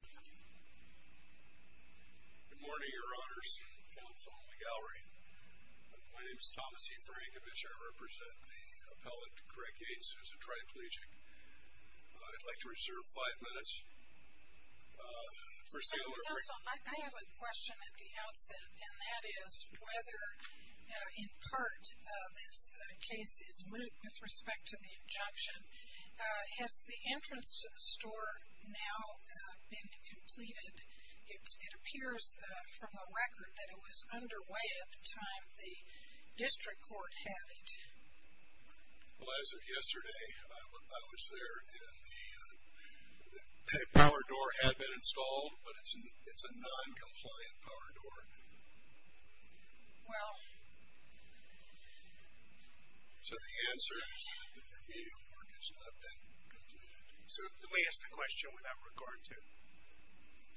Good morning, your honors, counsel, and the gallery. My name is Thomas E. Frankovich. I represent the appellate, Craig Yates, who is a triplegic. I'd like to reserve five minutes for sale or... I have a question at the outset, and that is whether, in part, this case is moot with respect to the injunction. Has the entrance to the store now been completed? It appears from the record that it was underway at the time the district court had it. Well, as of yesterday, I was there, and the power door had been installed, but it's a noncompliant power door. Well... So the answer is that the remedial work has not been completed. So let me ask the question without regard to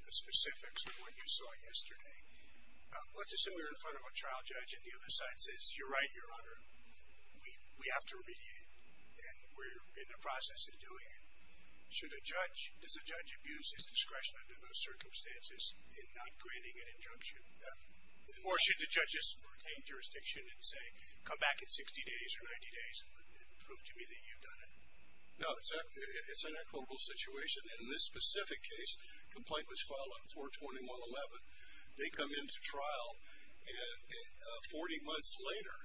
the specifics of what you saw yesterday. Let's assume you're in front of a trial judge, and the other side says, You're right, your honor, we have to remediate, and we're in the process of doing it. Should a judge... Does a judge abuse his discretion under those circumstances in not granting an injunction? Or should the judges retain jurisdiction and say, Come back in 60 days or 90 days and prove to me that you've done it? No, it's an equitable situation. In this specific case, complaint was filed on 421.11. They come into trial 40 months later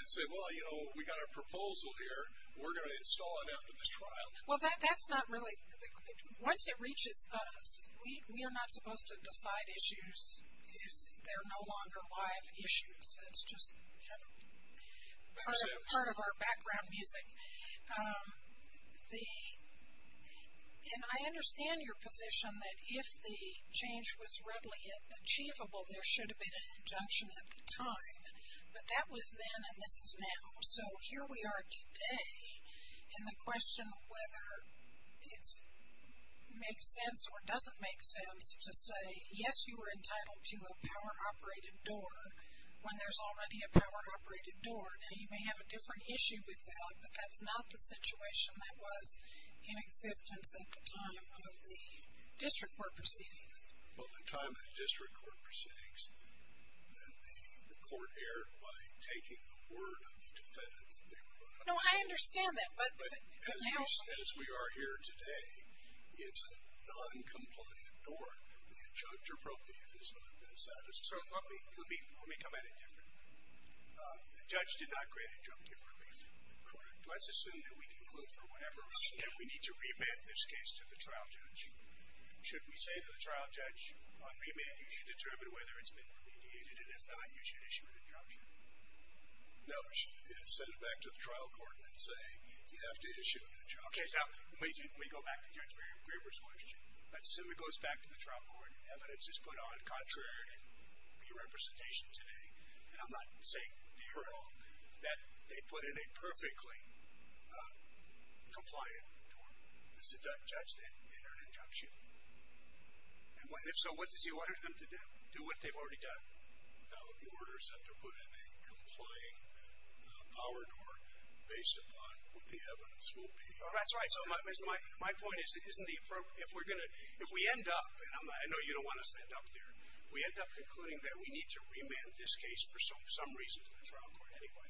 and say, Well, you know, we got a proposal here. Well, that's not really... Once it reaches us, we are not supposed to decide issues if they're no longer live issues. It's just part of our background music. And I understand your position that if the change was readily achievable, there should have been an injunction at the time. But that was then, and this is now. So here we are today, and the question of whether it makes sense or doesn't make sense to say, Yes, you are entitled to a power-operated door when there's already a power-operated door. Now, you may have a different issue with that, but that's not the situation that was in existence at the time of the district court proceedings. Well, at the time of the district court proceedings, the court erred by taking the word of the defendant. No, I understand that. But as we are here today, it's a non-compliant door. The injunctive relief has not been satisfied. So let me come at it differently. The judge did not grant injunctive relief. Let's assume that we can conclude from whatever we need to re-admit this case to the trial judge. Should we say to the trial judge, on remand, you should determine whether it's been remediated, and if not, you should issue an injunction? No, we should send it back to the trial court and say, You have to issue an injunction. Okay. Now, we go back to Judge Greber's question. Let's assume it goes back to the trial court. Evidence is put on contrary re-representation today. And I'm not saying here at all that they put in a perfectly compliant door. Does the judge then enter an injunction? And if so, what does he order them to do? Do what they've already done? He orders them to put in a complying power door based upon what the evidence will be. That's right. My point is, if we end up, and I know you don't want to stand up there, we end up concluding that we need to remand this case for some reason to the trial court anyway.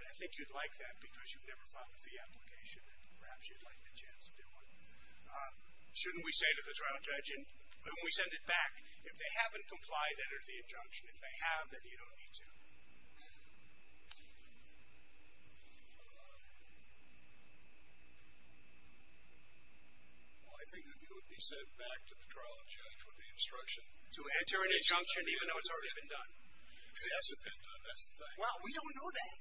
And I think you'd like that because you've never filed a fee application, and perhaps you'd like the chance to do it. Shouldn't we say to the trial judge, and we send it back, If they haven't complied, enter the injunction. If they have, then you don't need to. Well, I think that you would be sent back to the trial judge with the instruction. To enter an injunction even though it's already been done. It hasn't been done. That's the thing. Well, we don't know that.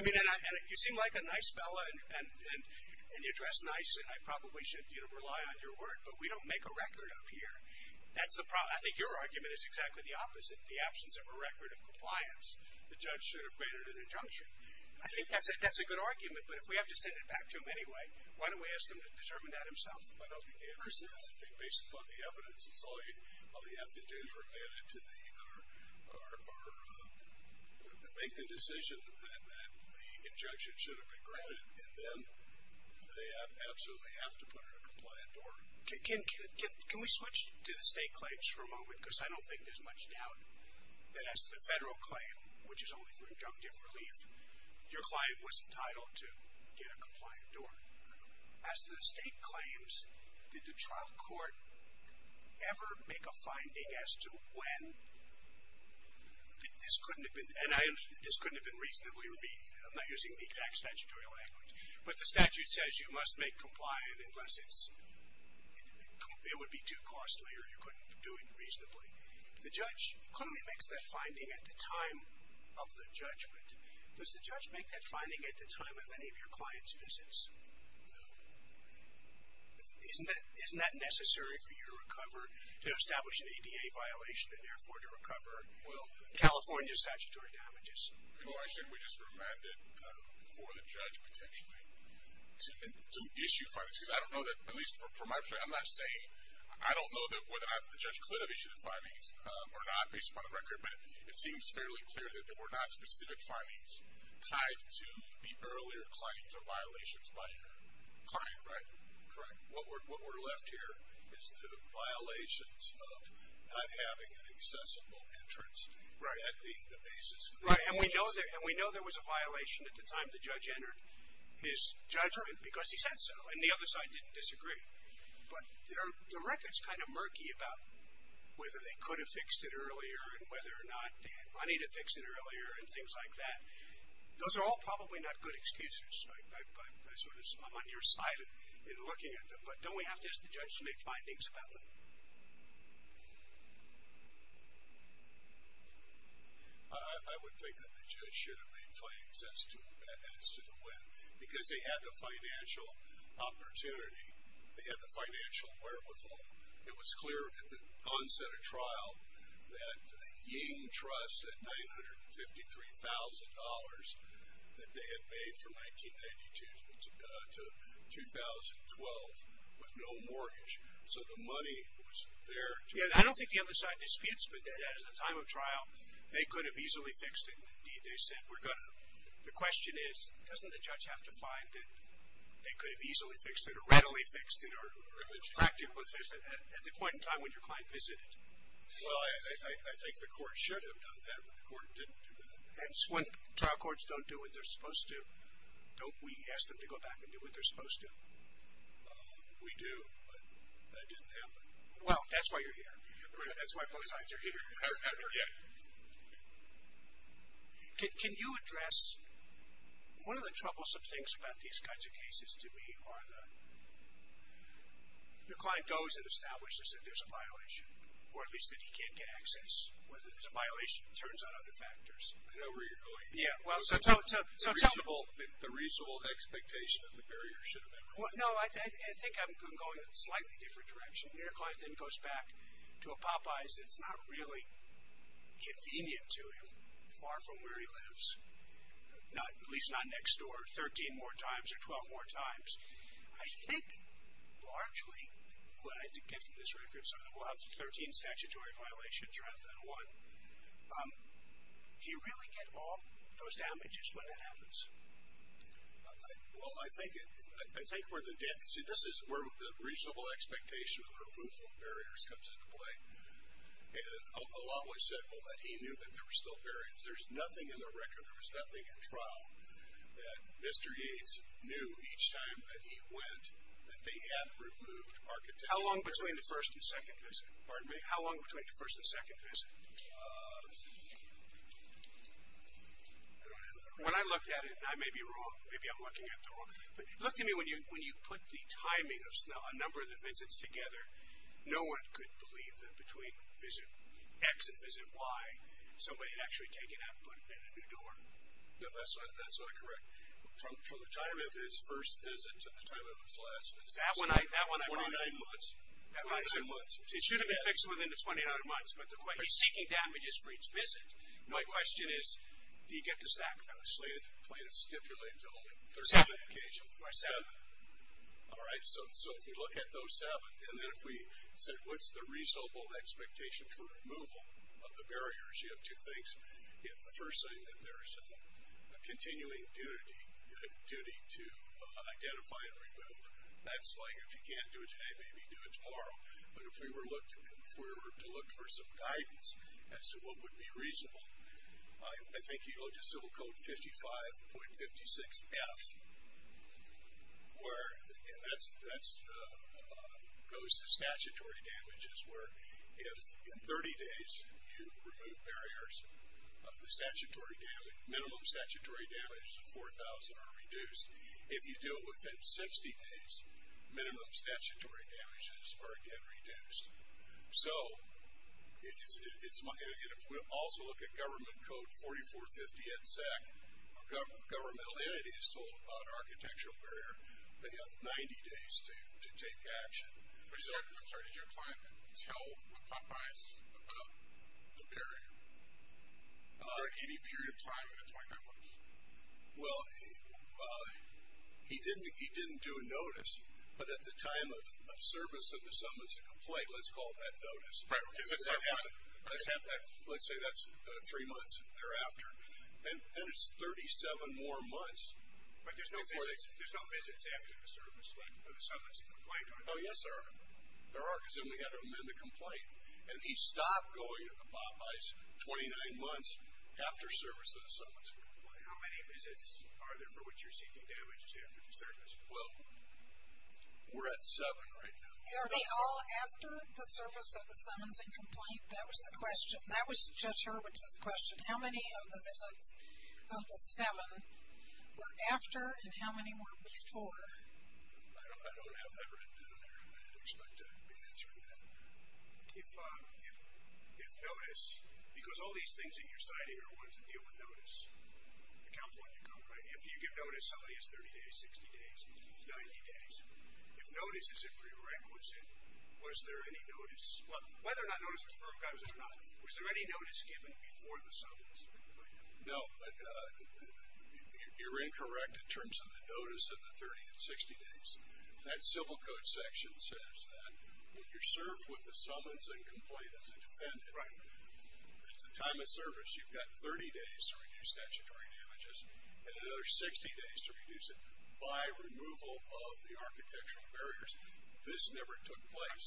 I mean, and you seem like a nice fellow, and you dress nice, and I probably should rely on your word, but we don't make a record up here. That's the problem. I think your argument is exactly the opposite. The absence of a record of compliance, the judge should have granted an injunction. I think that's a good argument, but if we have to send it back to him anyway, why don't we ask him to determine that himself? I don't think he understands. I think based upon the evidence, it's all you have to do is make the decision that the injunction should have been granted, and then they absolutely have to put in a compliant order. Can we switch to the state claims for a moment, because I don't think there's much doubt that as to the federal claim, which is only for injunctive relief, your client was entitled to get a compliant order. As to the state claims, did the trial court ever make a finding as to when? This couldn't have been reasonably remedied. I'm not using the exact statutory language, but the statute says you must make compliant unless it would be too costly or you couldn't do it reasonably. The judge clearly makes that finding at the time of the judgment. Does the judge make that finding at the time of any of your client's visits? No. Isn't that necessary for you to establish an ADA violation and therefore to recover California's statutory damages? We just remanded for the judge potentially to issue findings, because I don't know that, at least for my part, I'm not saying, I don't know whether or not the judge could have issued the findings or not, based upon the record, but it seems fairly clear that there were not specific findings tied to the earlier client or violations by your client, right? Correct. What we're left here is the violations of not having an accessible entrance at the basis of the case. Right, and we know there was a violation at the time the judge entered his judgment, because he said so, and the other side didn't disagree. But the record's kind of murky about whether they could have fixed it earlier and whether or not they had money to fix it earlier and things like that. Those are all probably not good excuses. I'm on your side in looking at them, but don't we have to ask the judge to make findings about them? I would think that the judge should have made findings as to the when, because they had the financial opportunity, they had the financial wherewithal. It was clear at the onset of trial that the Ying Trust, that $953,000 that they had made from 1992 to 2012 with no mortgage, so the money was there. I don't think the other side disputes, but at the time of trial, they could have easily fixed it. Indeed, they said we're going to. The question is, doesn't the judge have to find that they could have easily fixed it or readily fixed it or acted with it at the point in time when your client visited? Well, I think the court should have done that, but the court didn't do that. And when trial courts don't do what they're supposed to, don't we ask them to go back and do what they're supposed to? We do, but that didn't happen. Well, that's why you're here. That's why both sides are here. Hasn't happened yet. Can you address, one of the troublesome things about these kinds of cases to me are the, your client goes and establishes that there's a violation, or at least that he can't get access, whether there's a violation, turns on other factors. I know where you're going. Yeah, well, so tell me. The reasonable expectation that the barrier should have been removed. No, I think I'm going a slightly different direction. Your client then goes back to a Popeye's that's not really convenient to him, far from where he lives, at least not next door 13 more times or 12 more times. I think, largely, what I did get from this record, so we'll have 13 statutory violations rather than one. Do you really get all those damages when that happens? Well, I think we're the, see, this is where the reasonable expectation of removal of barriers comes into play. And I'll always say, well, that he knew that there were still barriers. There's nothing in the record, there was nothing in trial, that Mr. Yates knew each time that he went that they had removed architecture. How long between the first and second visit? Pardon me? How long between the first and second visit? I don't have that record. When I looked at it, and I may be wrong, maybe I'm looking at it the wrong way, but look to me when you put the timing of a number of the visits together, no one could believe that between visit X and visit Y, somebody had actually taken that foot in a new door. No, that's not correct. From the time of his first visit to the time of his last visit. That one I brought up. 29 months. It should have been fixed within the 29 months, but he's seeking damages for each visit. My question is, do you get to stack those? I'll explain it, stipulate it to him. Seven. All right, so if you look at those seven, and then if we said what's the reasonable expectation for removal of the barriers, you have two things. The first thing, if there's a continuing duty to identify and remove, that's like if you can't do it today, maybe do it tomorrow. But if we were to look for some guidance as to what would be reasonable, I think you go to Civil Code 55.56F, where that goes to statutory damages, where if in 30 days you remove barriers, the minimum statutory damages of 4,000 are reduced. If you do it within 60 days, minimum statutory damages are again reduced. So if we also look at Government Code 4450 at SEC, governmental entities told about architectural barrier, they have 90 days to take action. I'm sorry, did your client tell Popeyes about the barrier for any period of time in the 29 months? Well, he didn't do a notice, but at the time of service of the summons and complaint, let's call that notice. Let's say that's three months thereafter. Then it's 37 more months. But there's no visits after the service of the summons and complaint? Oh, yes, there are. There are, because then we have to amend the complaint. And he stopped going to Popeyes 29 months after service of the summons and complaint. How many visits are there for which you're seeking damages after the service? Well, we're at seven right now. Are they all after the service of the summons and complaint? That was the question. That was Judge Hurwitz's question. How many of the visits of the seven were after, and how many were before? I don't have that written down there. I didn't expect to be answering that. If notice, because all these things that you're citing are ones that deal with notice. The California Code, right? If you give notice, somebody has 30 days, 60 days, 90 days. If notice is a prerequisite, was there any notice? Well, whether or not notice was prorogated or not, was there any notice given before the summons and complaint? No, but you're incorrect in terms of the notice of the 30 and 60 days. That Civil Code section says that when you're served with the summons and complaint as a defendant, at the time of service, you've got 30 days to reduce statutory damages and another 60 days to reduce it by removal of the architectural barriers. This never took place.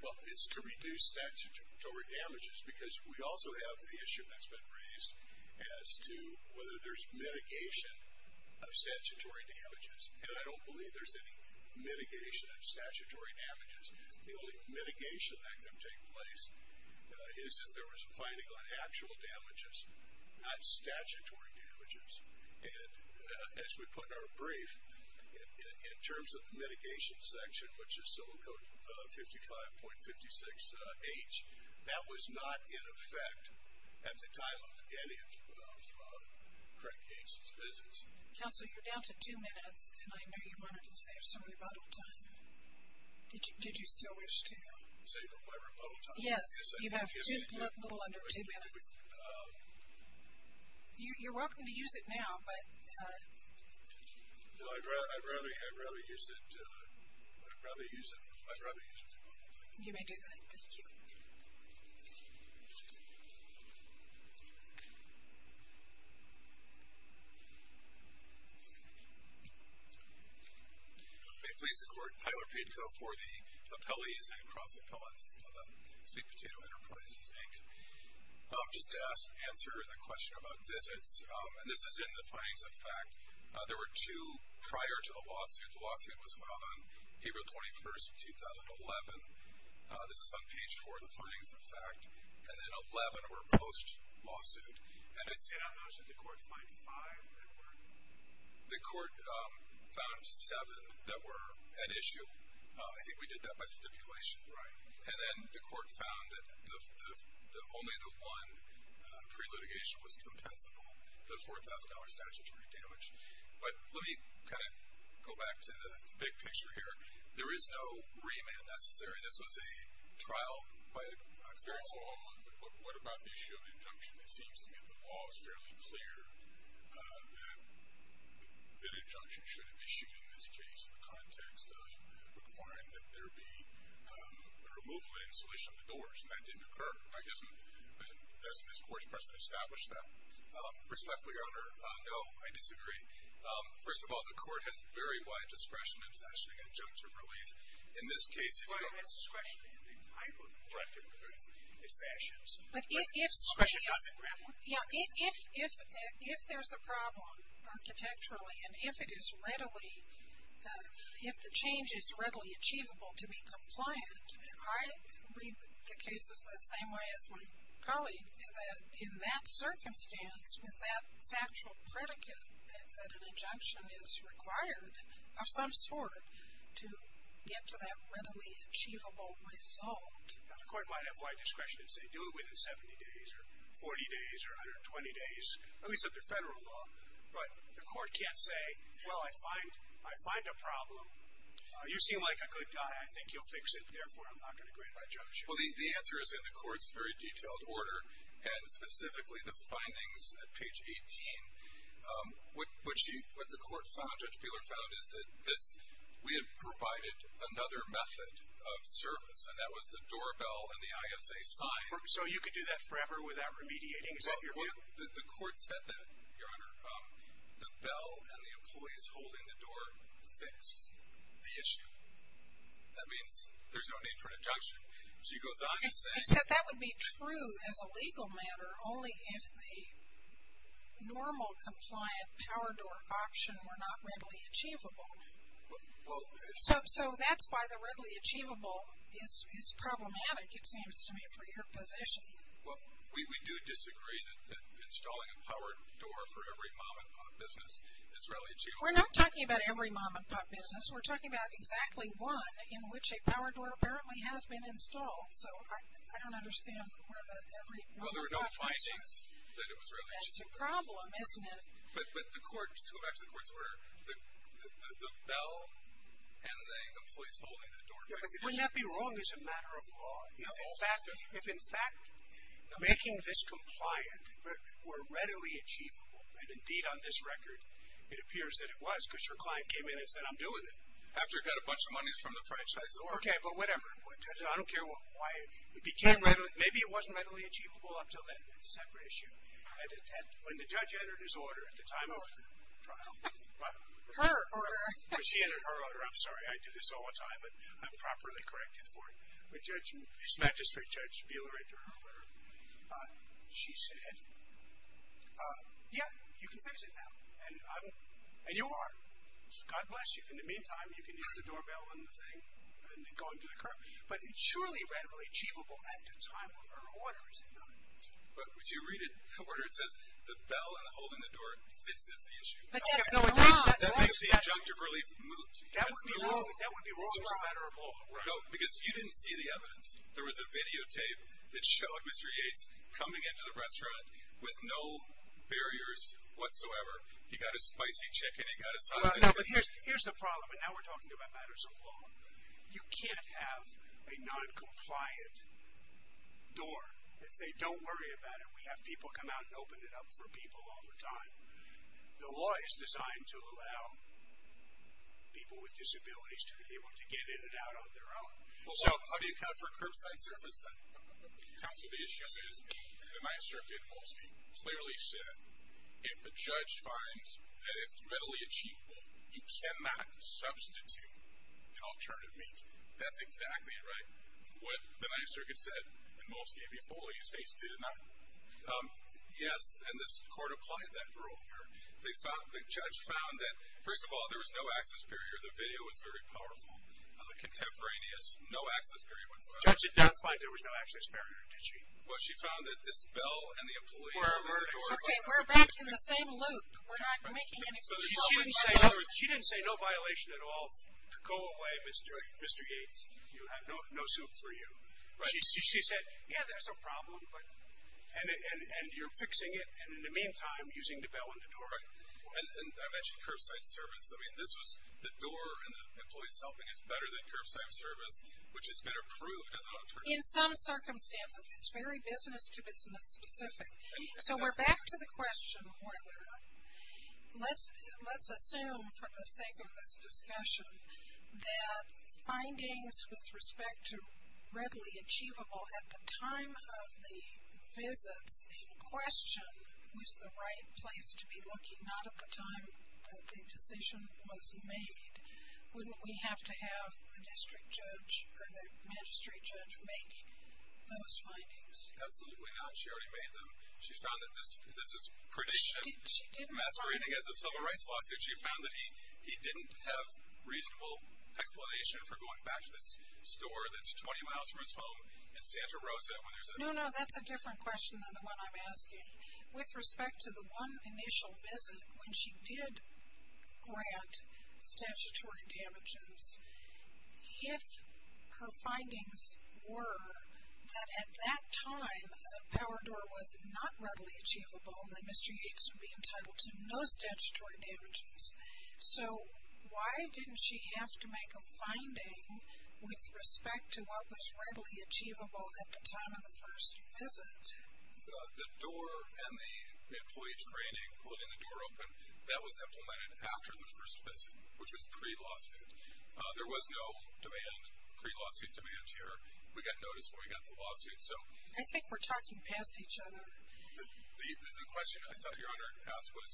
Well, it's to reduce statutory damages because we also have the issue that's been raised as to whether there's mitigation of statutory damages. And I don't believe there's any mitigation of statutory damages. The only mitigation that can take place is if there was a finding on actual damages, not statutory damages. And as we put in our brief, in terms of the mitigation section, which is Civil Code 55.56H, that was not in effect at the time of any of Craig Gaines' visits. Counsel, you're down to two minutes, and I know you wanted to save some rebuttal time. Did you still wish to? Save my rebuttal time? Yes, you have a little under two minutes. You're welcome to use it now, but. Well, I'd rather use it. I'd rather use it. You may do that. Thank you. May it please the Court, Tyler Papko for the appellees and cross appellants of the Sweet Potato Enterprises, Inc. Just to answer the question about visits, and this is in the findings of fact, there were two prior to the lawsuit. The lawsuit was filed on April 21, 2011. This is on page four of the findings of fact. And then 11 were post-lawsuit. You said on those that the Court found five that were? The Court found seven that were at issue. I think we did that by stipulation. Right. And then the Court found that only the one pre-litigation was compensable, the $4,000 statutory damage. But let me kind of go back to the big picture here. There is no remand necessary. This was a trial by experience. So what about the issue of injunction? It seems to me that the law is fairly clear that an injunction should have issued in this case in the context of requiring that there be a removal and installation of the doors, and that didn't occur. Doesn't this Court's precedent establish that? Respectfully, Your Honor, no, I disagree. First of all, the Court has very wide discretion in fashioning injunctive relief. In this case, if I have discretion in the type of injunctive relief it fashions, discretion doesn't matter? Yeah, if there's a problem architecturally and if it is readily, if the change is readily achievable to be compliant, I read the cases the same way as my colleague, that in that circumstance with that factual predicate that an injunction is required of some sort to get to that readily achievable result. Now, the Court might have wide discretion to say, do it within 70 days or 40 days or 120 days, at least under federal law, but the Court can't say, well, I find a problem. You seem like a good guy. I think you'll fix it. Therefore, I'm not going to grant my judgment. Well, the answer is in the Court's very detailed order, and specifically the findings at page 18, which the Court found, Judge Peeler found, is that we had provided another method of service, and that was the doorbell and the ISA sign. So you could do that forever without remediating? Is that your view? Well, the Court said that, Your Honor. The bell and the employees holding the door fix the issue. That means there's no need for an injunction. She goes on to say… Except that would be true as a legal matter, only if the normal compliant power door option were not readily achievable. So that's why the readily achievable is problematic, it seems to me, for your position. Well, we do disagree that installing a power door for every mom-and-pop business is readily achievable. We're not talking about every mom-and-pop business. We're talking about exactly one in which a power door apparently has been installed. So I don't understand whether every mom-and-pop business… Well, there were no findings that it was readily achievable. That's a problem, isn't it? But the Court, to go back to the Court's order, the bell and the employees holding the door fix the issue. Wouldn't that be wrong as a matter of law? No. If, in fact, making this compliant were readily achievable, and indeed on this record it appears that it was because your client came in and said, I'm doing it. After he got a bunch of monies from the franchisor. Okay, but whatever. I don't care why. Maybe it wasn't readily achievable up until then. That's a separate issue. When the judge entered his order at the time of the trial. Her order. When she entered her order. I'm sorry. I do this all the time, but I'm properly corrected for it. When his magistrate, Judge Buehler, entered her order, she said, yeah, you can fix it now. And you are. God bless you. In the meantime, you can use the doorbell and the thing and go into the car. But it's surely readily achievable at the time of her order, isn't it? But if you read the order, it says the bell and the holding the door fixes the issue. But that's not. That makes the adjunctive relief moot. That would be wrong as a matter of law. No, because you didn't see the evidence. There was a videotape that showed Mr. Yates coming into the restaurant with no barriers whatsoever. He got a spicy chicken. He got a sausage. Here's the problem. And now we're talking about matters of law. You can't have a noncompliant door and say, don't worry about it. We have people come out and open it up for people all the time. The law is designed to allow people with disabilities to be able to get in and out on their own. So how do you account for curbside service? That comes with the issue. The Ninth Circuit in Molsky clearly said, if the judge finds that it's readily achievable, you cannot substitute in alternative means. That's exactly right. What the Ninth Circuit said in Molsky before you states did not. Yes, and this court applied that rule here. The judge found that, first of all, there was no access barrier. The video was very powerful, contemporaneous, no access barrier whatsoever. The judge did not find there was no access barrier, did she? Well, she found that this bell and the employee on the door. Okay, we're back in the same loop. We're not making an exception. She didn't say no violation at all. Go away, Mr. Yates. You have no soup for you. She said, yeah, there's a problem, and you're fixing it, and in the meantime, using the bell and the door. And I mentioned curbside service. I mean, this was the door and the employees helping is better than curbside service, which has been approved as an alternative. In some circumstances, it's very business-to-business specific. So we're back to the question, Hoyler. Let's assume, for the sake of this discussion, that findings with respect to readily achievable at the time of the visits in question was the right place to be looking, not at the time that the decision was made. Wouldn't we have to have the district judge or the magistrate judge make those findings? Absolutely not. She already made them. She found that this is prediction masquerading as a civil rights lawsuit. She found that he didn't have reasonable explanation for going back to this store that's 20 miles from his home in Santa Rosa. No, no, that's a different question than the one I'm asking. With respect to the one initial visit when she did grant statutory damages, if her findings were that at that time a power door was not readily achievable, then Mr. Yates would be entitled to no statutory damages. So why didn't she have to make a finding with respect to what was readily achievable at the time of the first visit? The door and the employee training, holding the door open, that was implemented after the first visit, which was pre-lawsuit. There was no demand, pre-lawsuit demand here. We got notice when we got the lawsuit. I think we're talking past each other. The question I thought Your Honor had asked was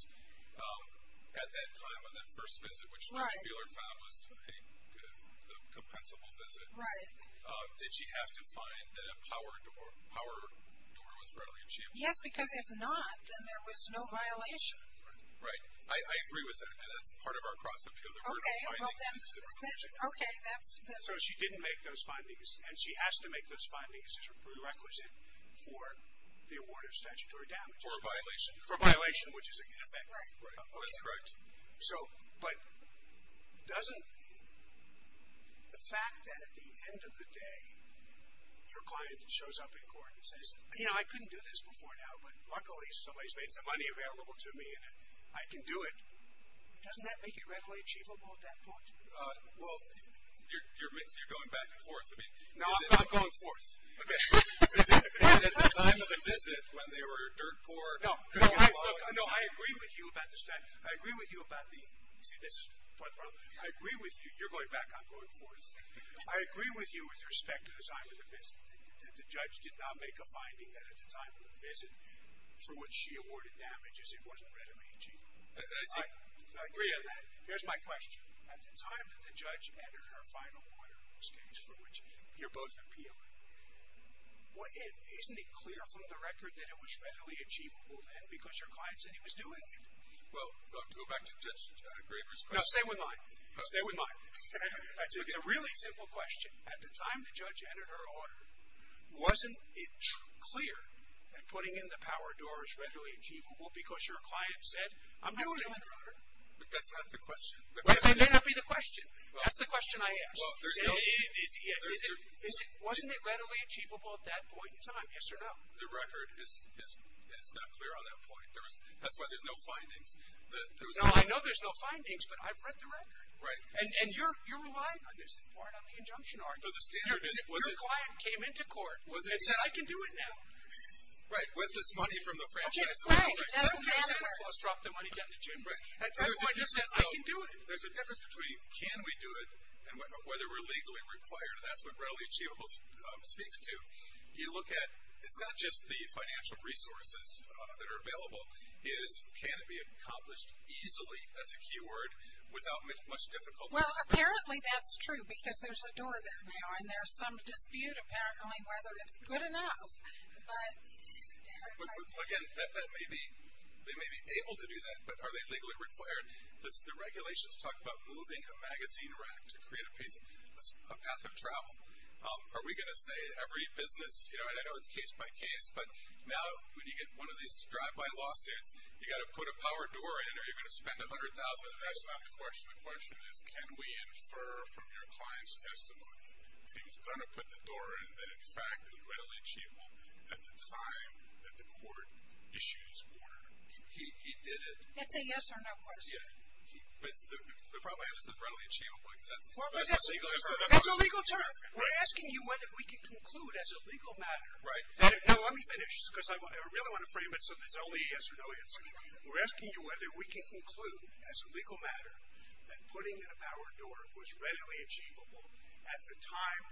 at that time of that first visit, which Judge Mueller found was a compensable visit, did she have to find that a power door was readily achievable? Yes, because if not, then there was no violation. Right. I agree with that, and that's part of our cross-examination. There were no findings as a prerequisite. Okay. So she didn't make those findings, and she has to make those findings as a prerequisite for the award of statutory damages. For a violation. For a violation, which is in effect. Right. That's correct. So, but doesn't the fact that at the end of the day your client shows up in court and says, you know, I couldn't do this before now, but luckily somebody's made some money available to me and I can do it, doesn't that make it readily achievable at that point? Well, you're going back and forth. No, I'm not going forth. Okay. And at the time of the visit when they were dirt poor. No, I agree with you about the statute. I agree with you about the, see, this is, I agree with you, you're going back, I'm going forth. I agree with you with respect to the time of the visit that the judge did not make a finding that at the time of the visit for which she awarded damages it wasn't readily achievable. I agree on that. Here's my question. At the time that the judge entered her final order in this case for which you're both appealing, isn't it clear from the record that it was readily achievable then because your client said he was doing it? Well, go back to Judge Graber's question. No, stay with mine. Stay with mine. It's a really simple question. At the time the judge entered her order, wasn't it clear that putting in the power door is readily achievable because your client said I'm not doing the order? But that's not the question. That may not be the question. That's the question I ask. Well, there's no. Isn't it readily achievable at that point in time, yes or no? The record is not clear on that point. That's why there's no findings. No, I know there's no findings, but I've read the record. Right. And you're relying on this. You aren't on the injunction argument. Your client came into court and said I can do it now. Right. With this money from the franchise. Right. That's the standard. Drop the money down the chamber. At that point it just says I can do it. There's a difference between can we do it and whether we're legally required, and that's what readily achievable speaks to. You look at, it's not just the financial resources that are available. It is can it be accomplished easily, that's a key word, without much difficulty. Well, apparently that's true because there's a door there now, and there's some dispute apparently whether it's good enough. But again, they may be able to do that, but are they legally required? Does the regulations talk about moving a magazine rack to create a path of travel? Are we going to say every business, and I know it's case by case, but now when you get one of these drive-by lawsuits, you've got to put a power door in or you're going to spend $100,000. That's not the question. The question is can we infer from your client's testimony that he was going to put the door in, that, in fact, it was readily achievable at the time that the court issued his order. He did it. That's a yes or no question. Yeah. The problem is it's readily achievable. That's a legal term. We're asking you whether we can conclude as a legal matter. Right. Now, let me finish because I really want to frame it so there's only a yes or no answer. We're asking you whether we can conclude as a legal matter that putting in a power door was readily achievable at the time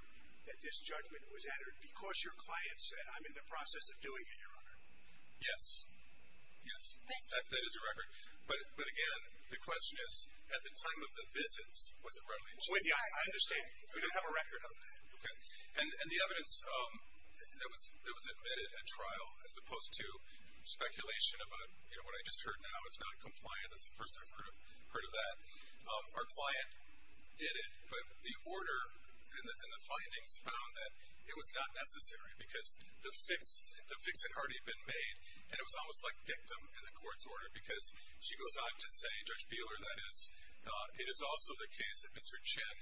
that this judgment was entered because your client said, I'm in the process of doing it, Your Honor. Yes. Yes. That is a record. But again, the question is at the time of the visits was it readily achievable? I understand. We don't have a record of that. Okay. And the evidence that was admitted at trial as opposed to speculation about, you know, what I just heard now is not compliant. That's the first I've heard of that. Our client did it, but the order and the findings found that it was not necessary because the fix had already been made, and it was almost like dictum in the court's order because she was also the case that Mr. Chen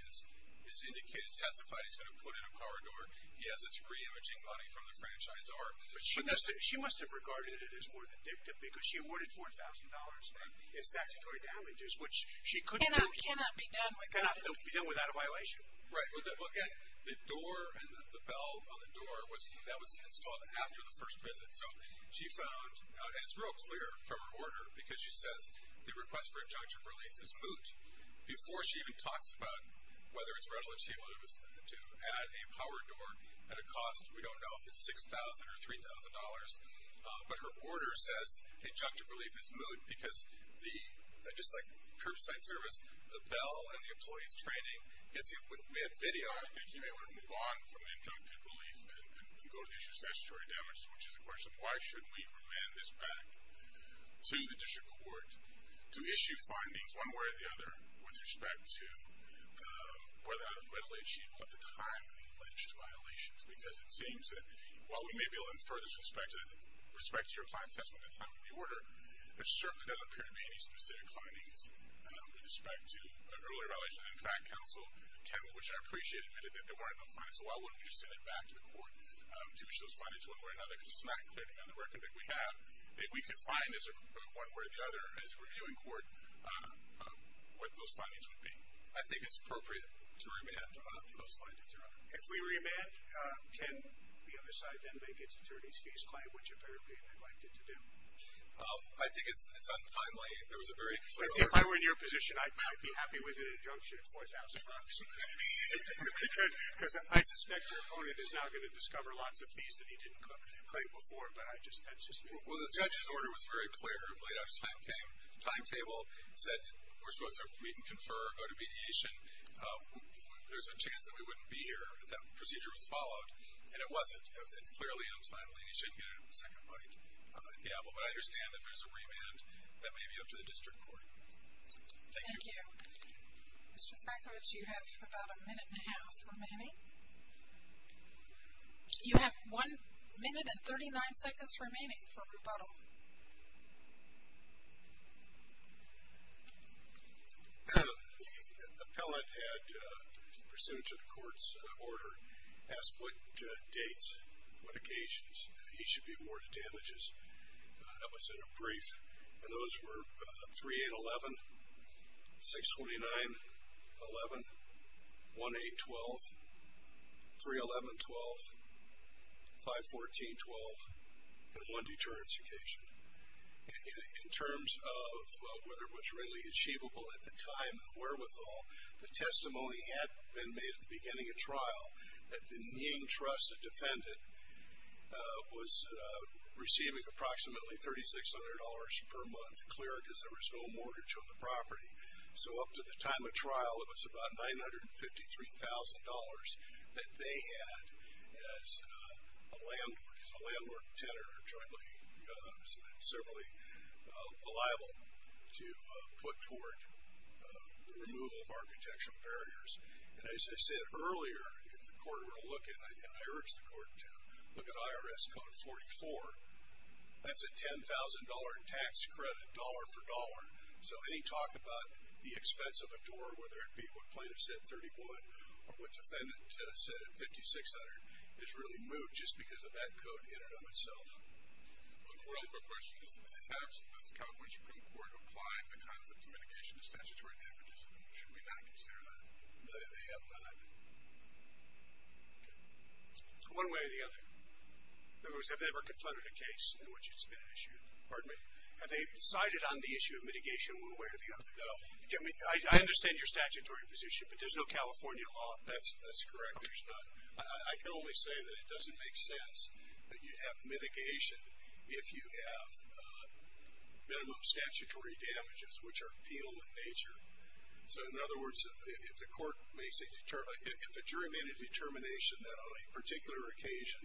has testified he's going to put in a power door. He has his re-imaging money from the franchise. But she must have regarded it as more than dictum because she awarded $4,000 in statutory damages, which she could not be done without a violation. Right. Well, again, the door and the bell on the door, that was installed after the first visit. So she found, and it's real clear from her order because she says the request for injunction of relief is moot. Before she even talks about whether it's readily achievable to add a power door at a cost, we don't know if it's $6,000 or $3,000. But her order says injunction of relief is moot because the, just like curbside service, the bell and the employee's training gets you a video. I think you may want to move on from injunction of relief and go to the issue of statutory damages, which is a question of why shouldn't we remand this back to the district court to issue findings one way or the other with respect to whether or not it's readily achievable at the time of the alleged violations? Because it seems that while we may be able to infer this with respect to your client's testimony at the time of the order, there certainly doesn't appear to be any specific findings with respect to an earlier violation. In fact, counsel, which I appreciate, admitted that there weren't no findings. So why wouldn't we just send it back to the court to issue those findings one way or another? Because it's not clear to me on the record that we have that we could find one way or the other as reviewing court what those findings would be. I think it's appropriate to remand for those findings, Your Honor. If we remand, can the other side then make its attorney's fees claim, which apparently they'd like it to do? I think it's untimely. There was a very clear order. Let's see, if I were in your position, I'd be happy with an injunction of 4,000 bucks. Because I suspect your opponent is now going to discover lots of fees that he didn't claim before, but I just had suspicions. Well, the judge's order was very clear. It laid out a timetable. It said we're supposed to meet and confer, go to mediation. There's a chance that we wouldn't be here if that procedure was followed, and it wasn't. It's clearly untimely, and you shouldn't get a second bite at the apple. But I understand if there's a remand, that may be up to the district court. Thank you. Thank you. Mr. Thrakowicz, you have about a minute and a half remaining. You have one minute and 39 seconds remaining for rebuttal. The appellant had, pursuant to the court's order, asked what dates, what occasions he should be awarded damages. That was in a brief. And those were 3-8-11, 6-29-11, 1-8-12, 3-11-12, 5-14-12, and one deterrence occasion. In terms of whether it was readily achievable at the time of the wherewithal, the testimony had been made at the beginning of trial that the Nying trust, a defendant, was receiving approximately $3,600 per month, clear because there was no mortgage on the property. So up to the time of trial, it was about $953,000 that they had as a landlord, tenant, or jointly, severally liable to put toward the removal of architectural barriers. And as I said earlier, if the court were to look at, and I urge the court to look at IRS Code 44, that's a $10,000 tax credit, dollar for dollar. So any talk about the expense of a door, whether it be what plaintiff said, 31, or what defendant said at $5,600, is really moot just because of that code in and of itself. But the real quick question is, has the California Supreme Court applied the concept of mitigation to statutory damages, and should we not consider that? They have not. One way or the other, members have never confronted a case in which it's been issued. Have they decided on the issue of mitigation one way or the other? No. I understand your statutory position, but there's no California law. That's correct. There's not. I can only say that it doesn't make sense that you have mitigation if you have minimum statutory damages, which are penal in nature. So in other words, if the court makes a determination that on a particular occasion,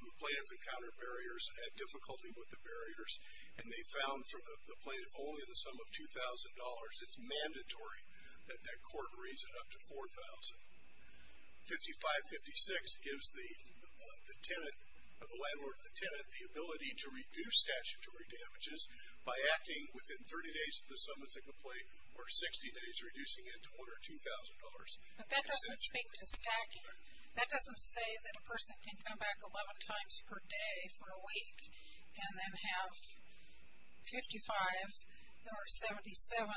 the plaintiff encountered barriers, had difficulty with the barriers, and they found for the plaintiff only the sum of $2,000, it's mandatory that that court raise it up to $4,000. 55-56 gives the landlord or the tenant the ability to reduce statutory damages by acting within 30 days of the sum of the complaint, or 60 days reducing it to $1,000 or $2,000. But that doesn't speak to stacking. That doesn't say that a person can come back 11 times per day for a week and then have 55 or 77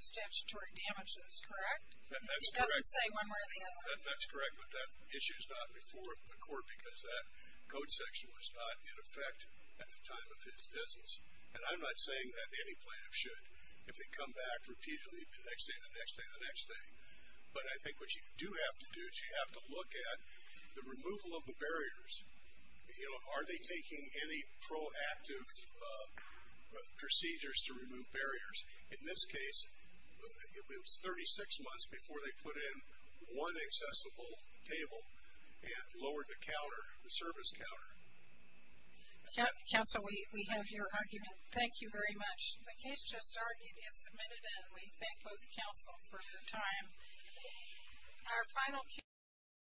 statutory damages, correct? That's correct. It doesn't say one way or the other? That's correct. But that issue is not before the court because that code section was not in effect at the time of his business. And I'm not saying that any plaintiff should, if they come back repeatedly, the next day, the next day, the next day. But I think what you do have to do is you have to look at the removal of the barriers. Are they taking any proactive procedures to remove barriers? In this case, it was 36 months before they put in one accessible table and lowered the counter, the service counter. Council, we have your argument. Thank you very much. The case just argued is submitted, and we thank both council for your time.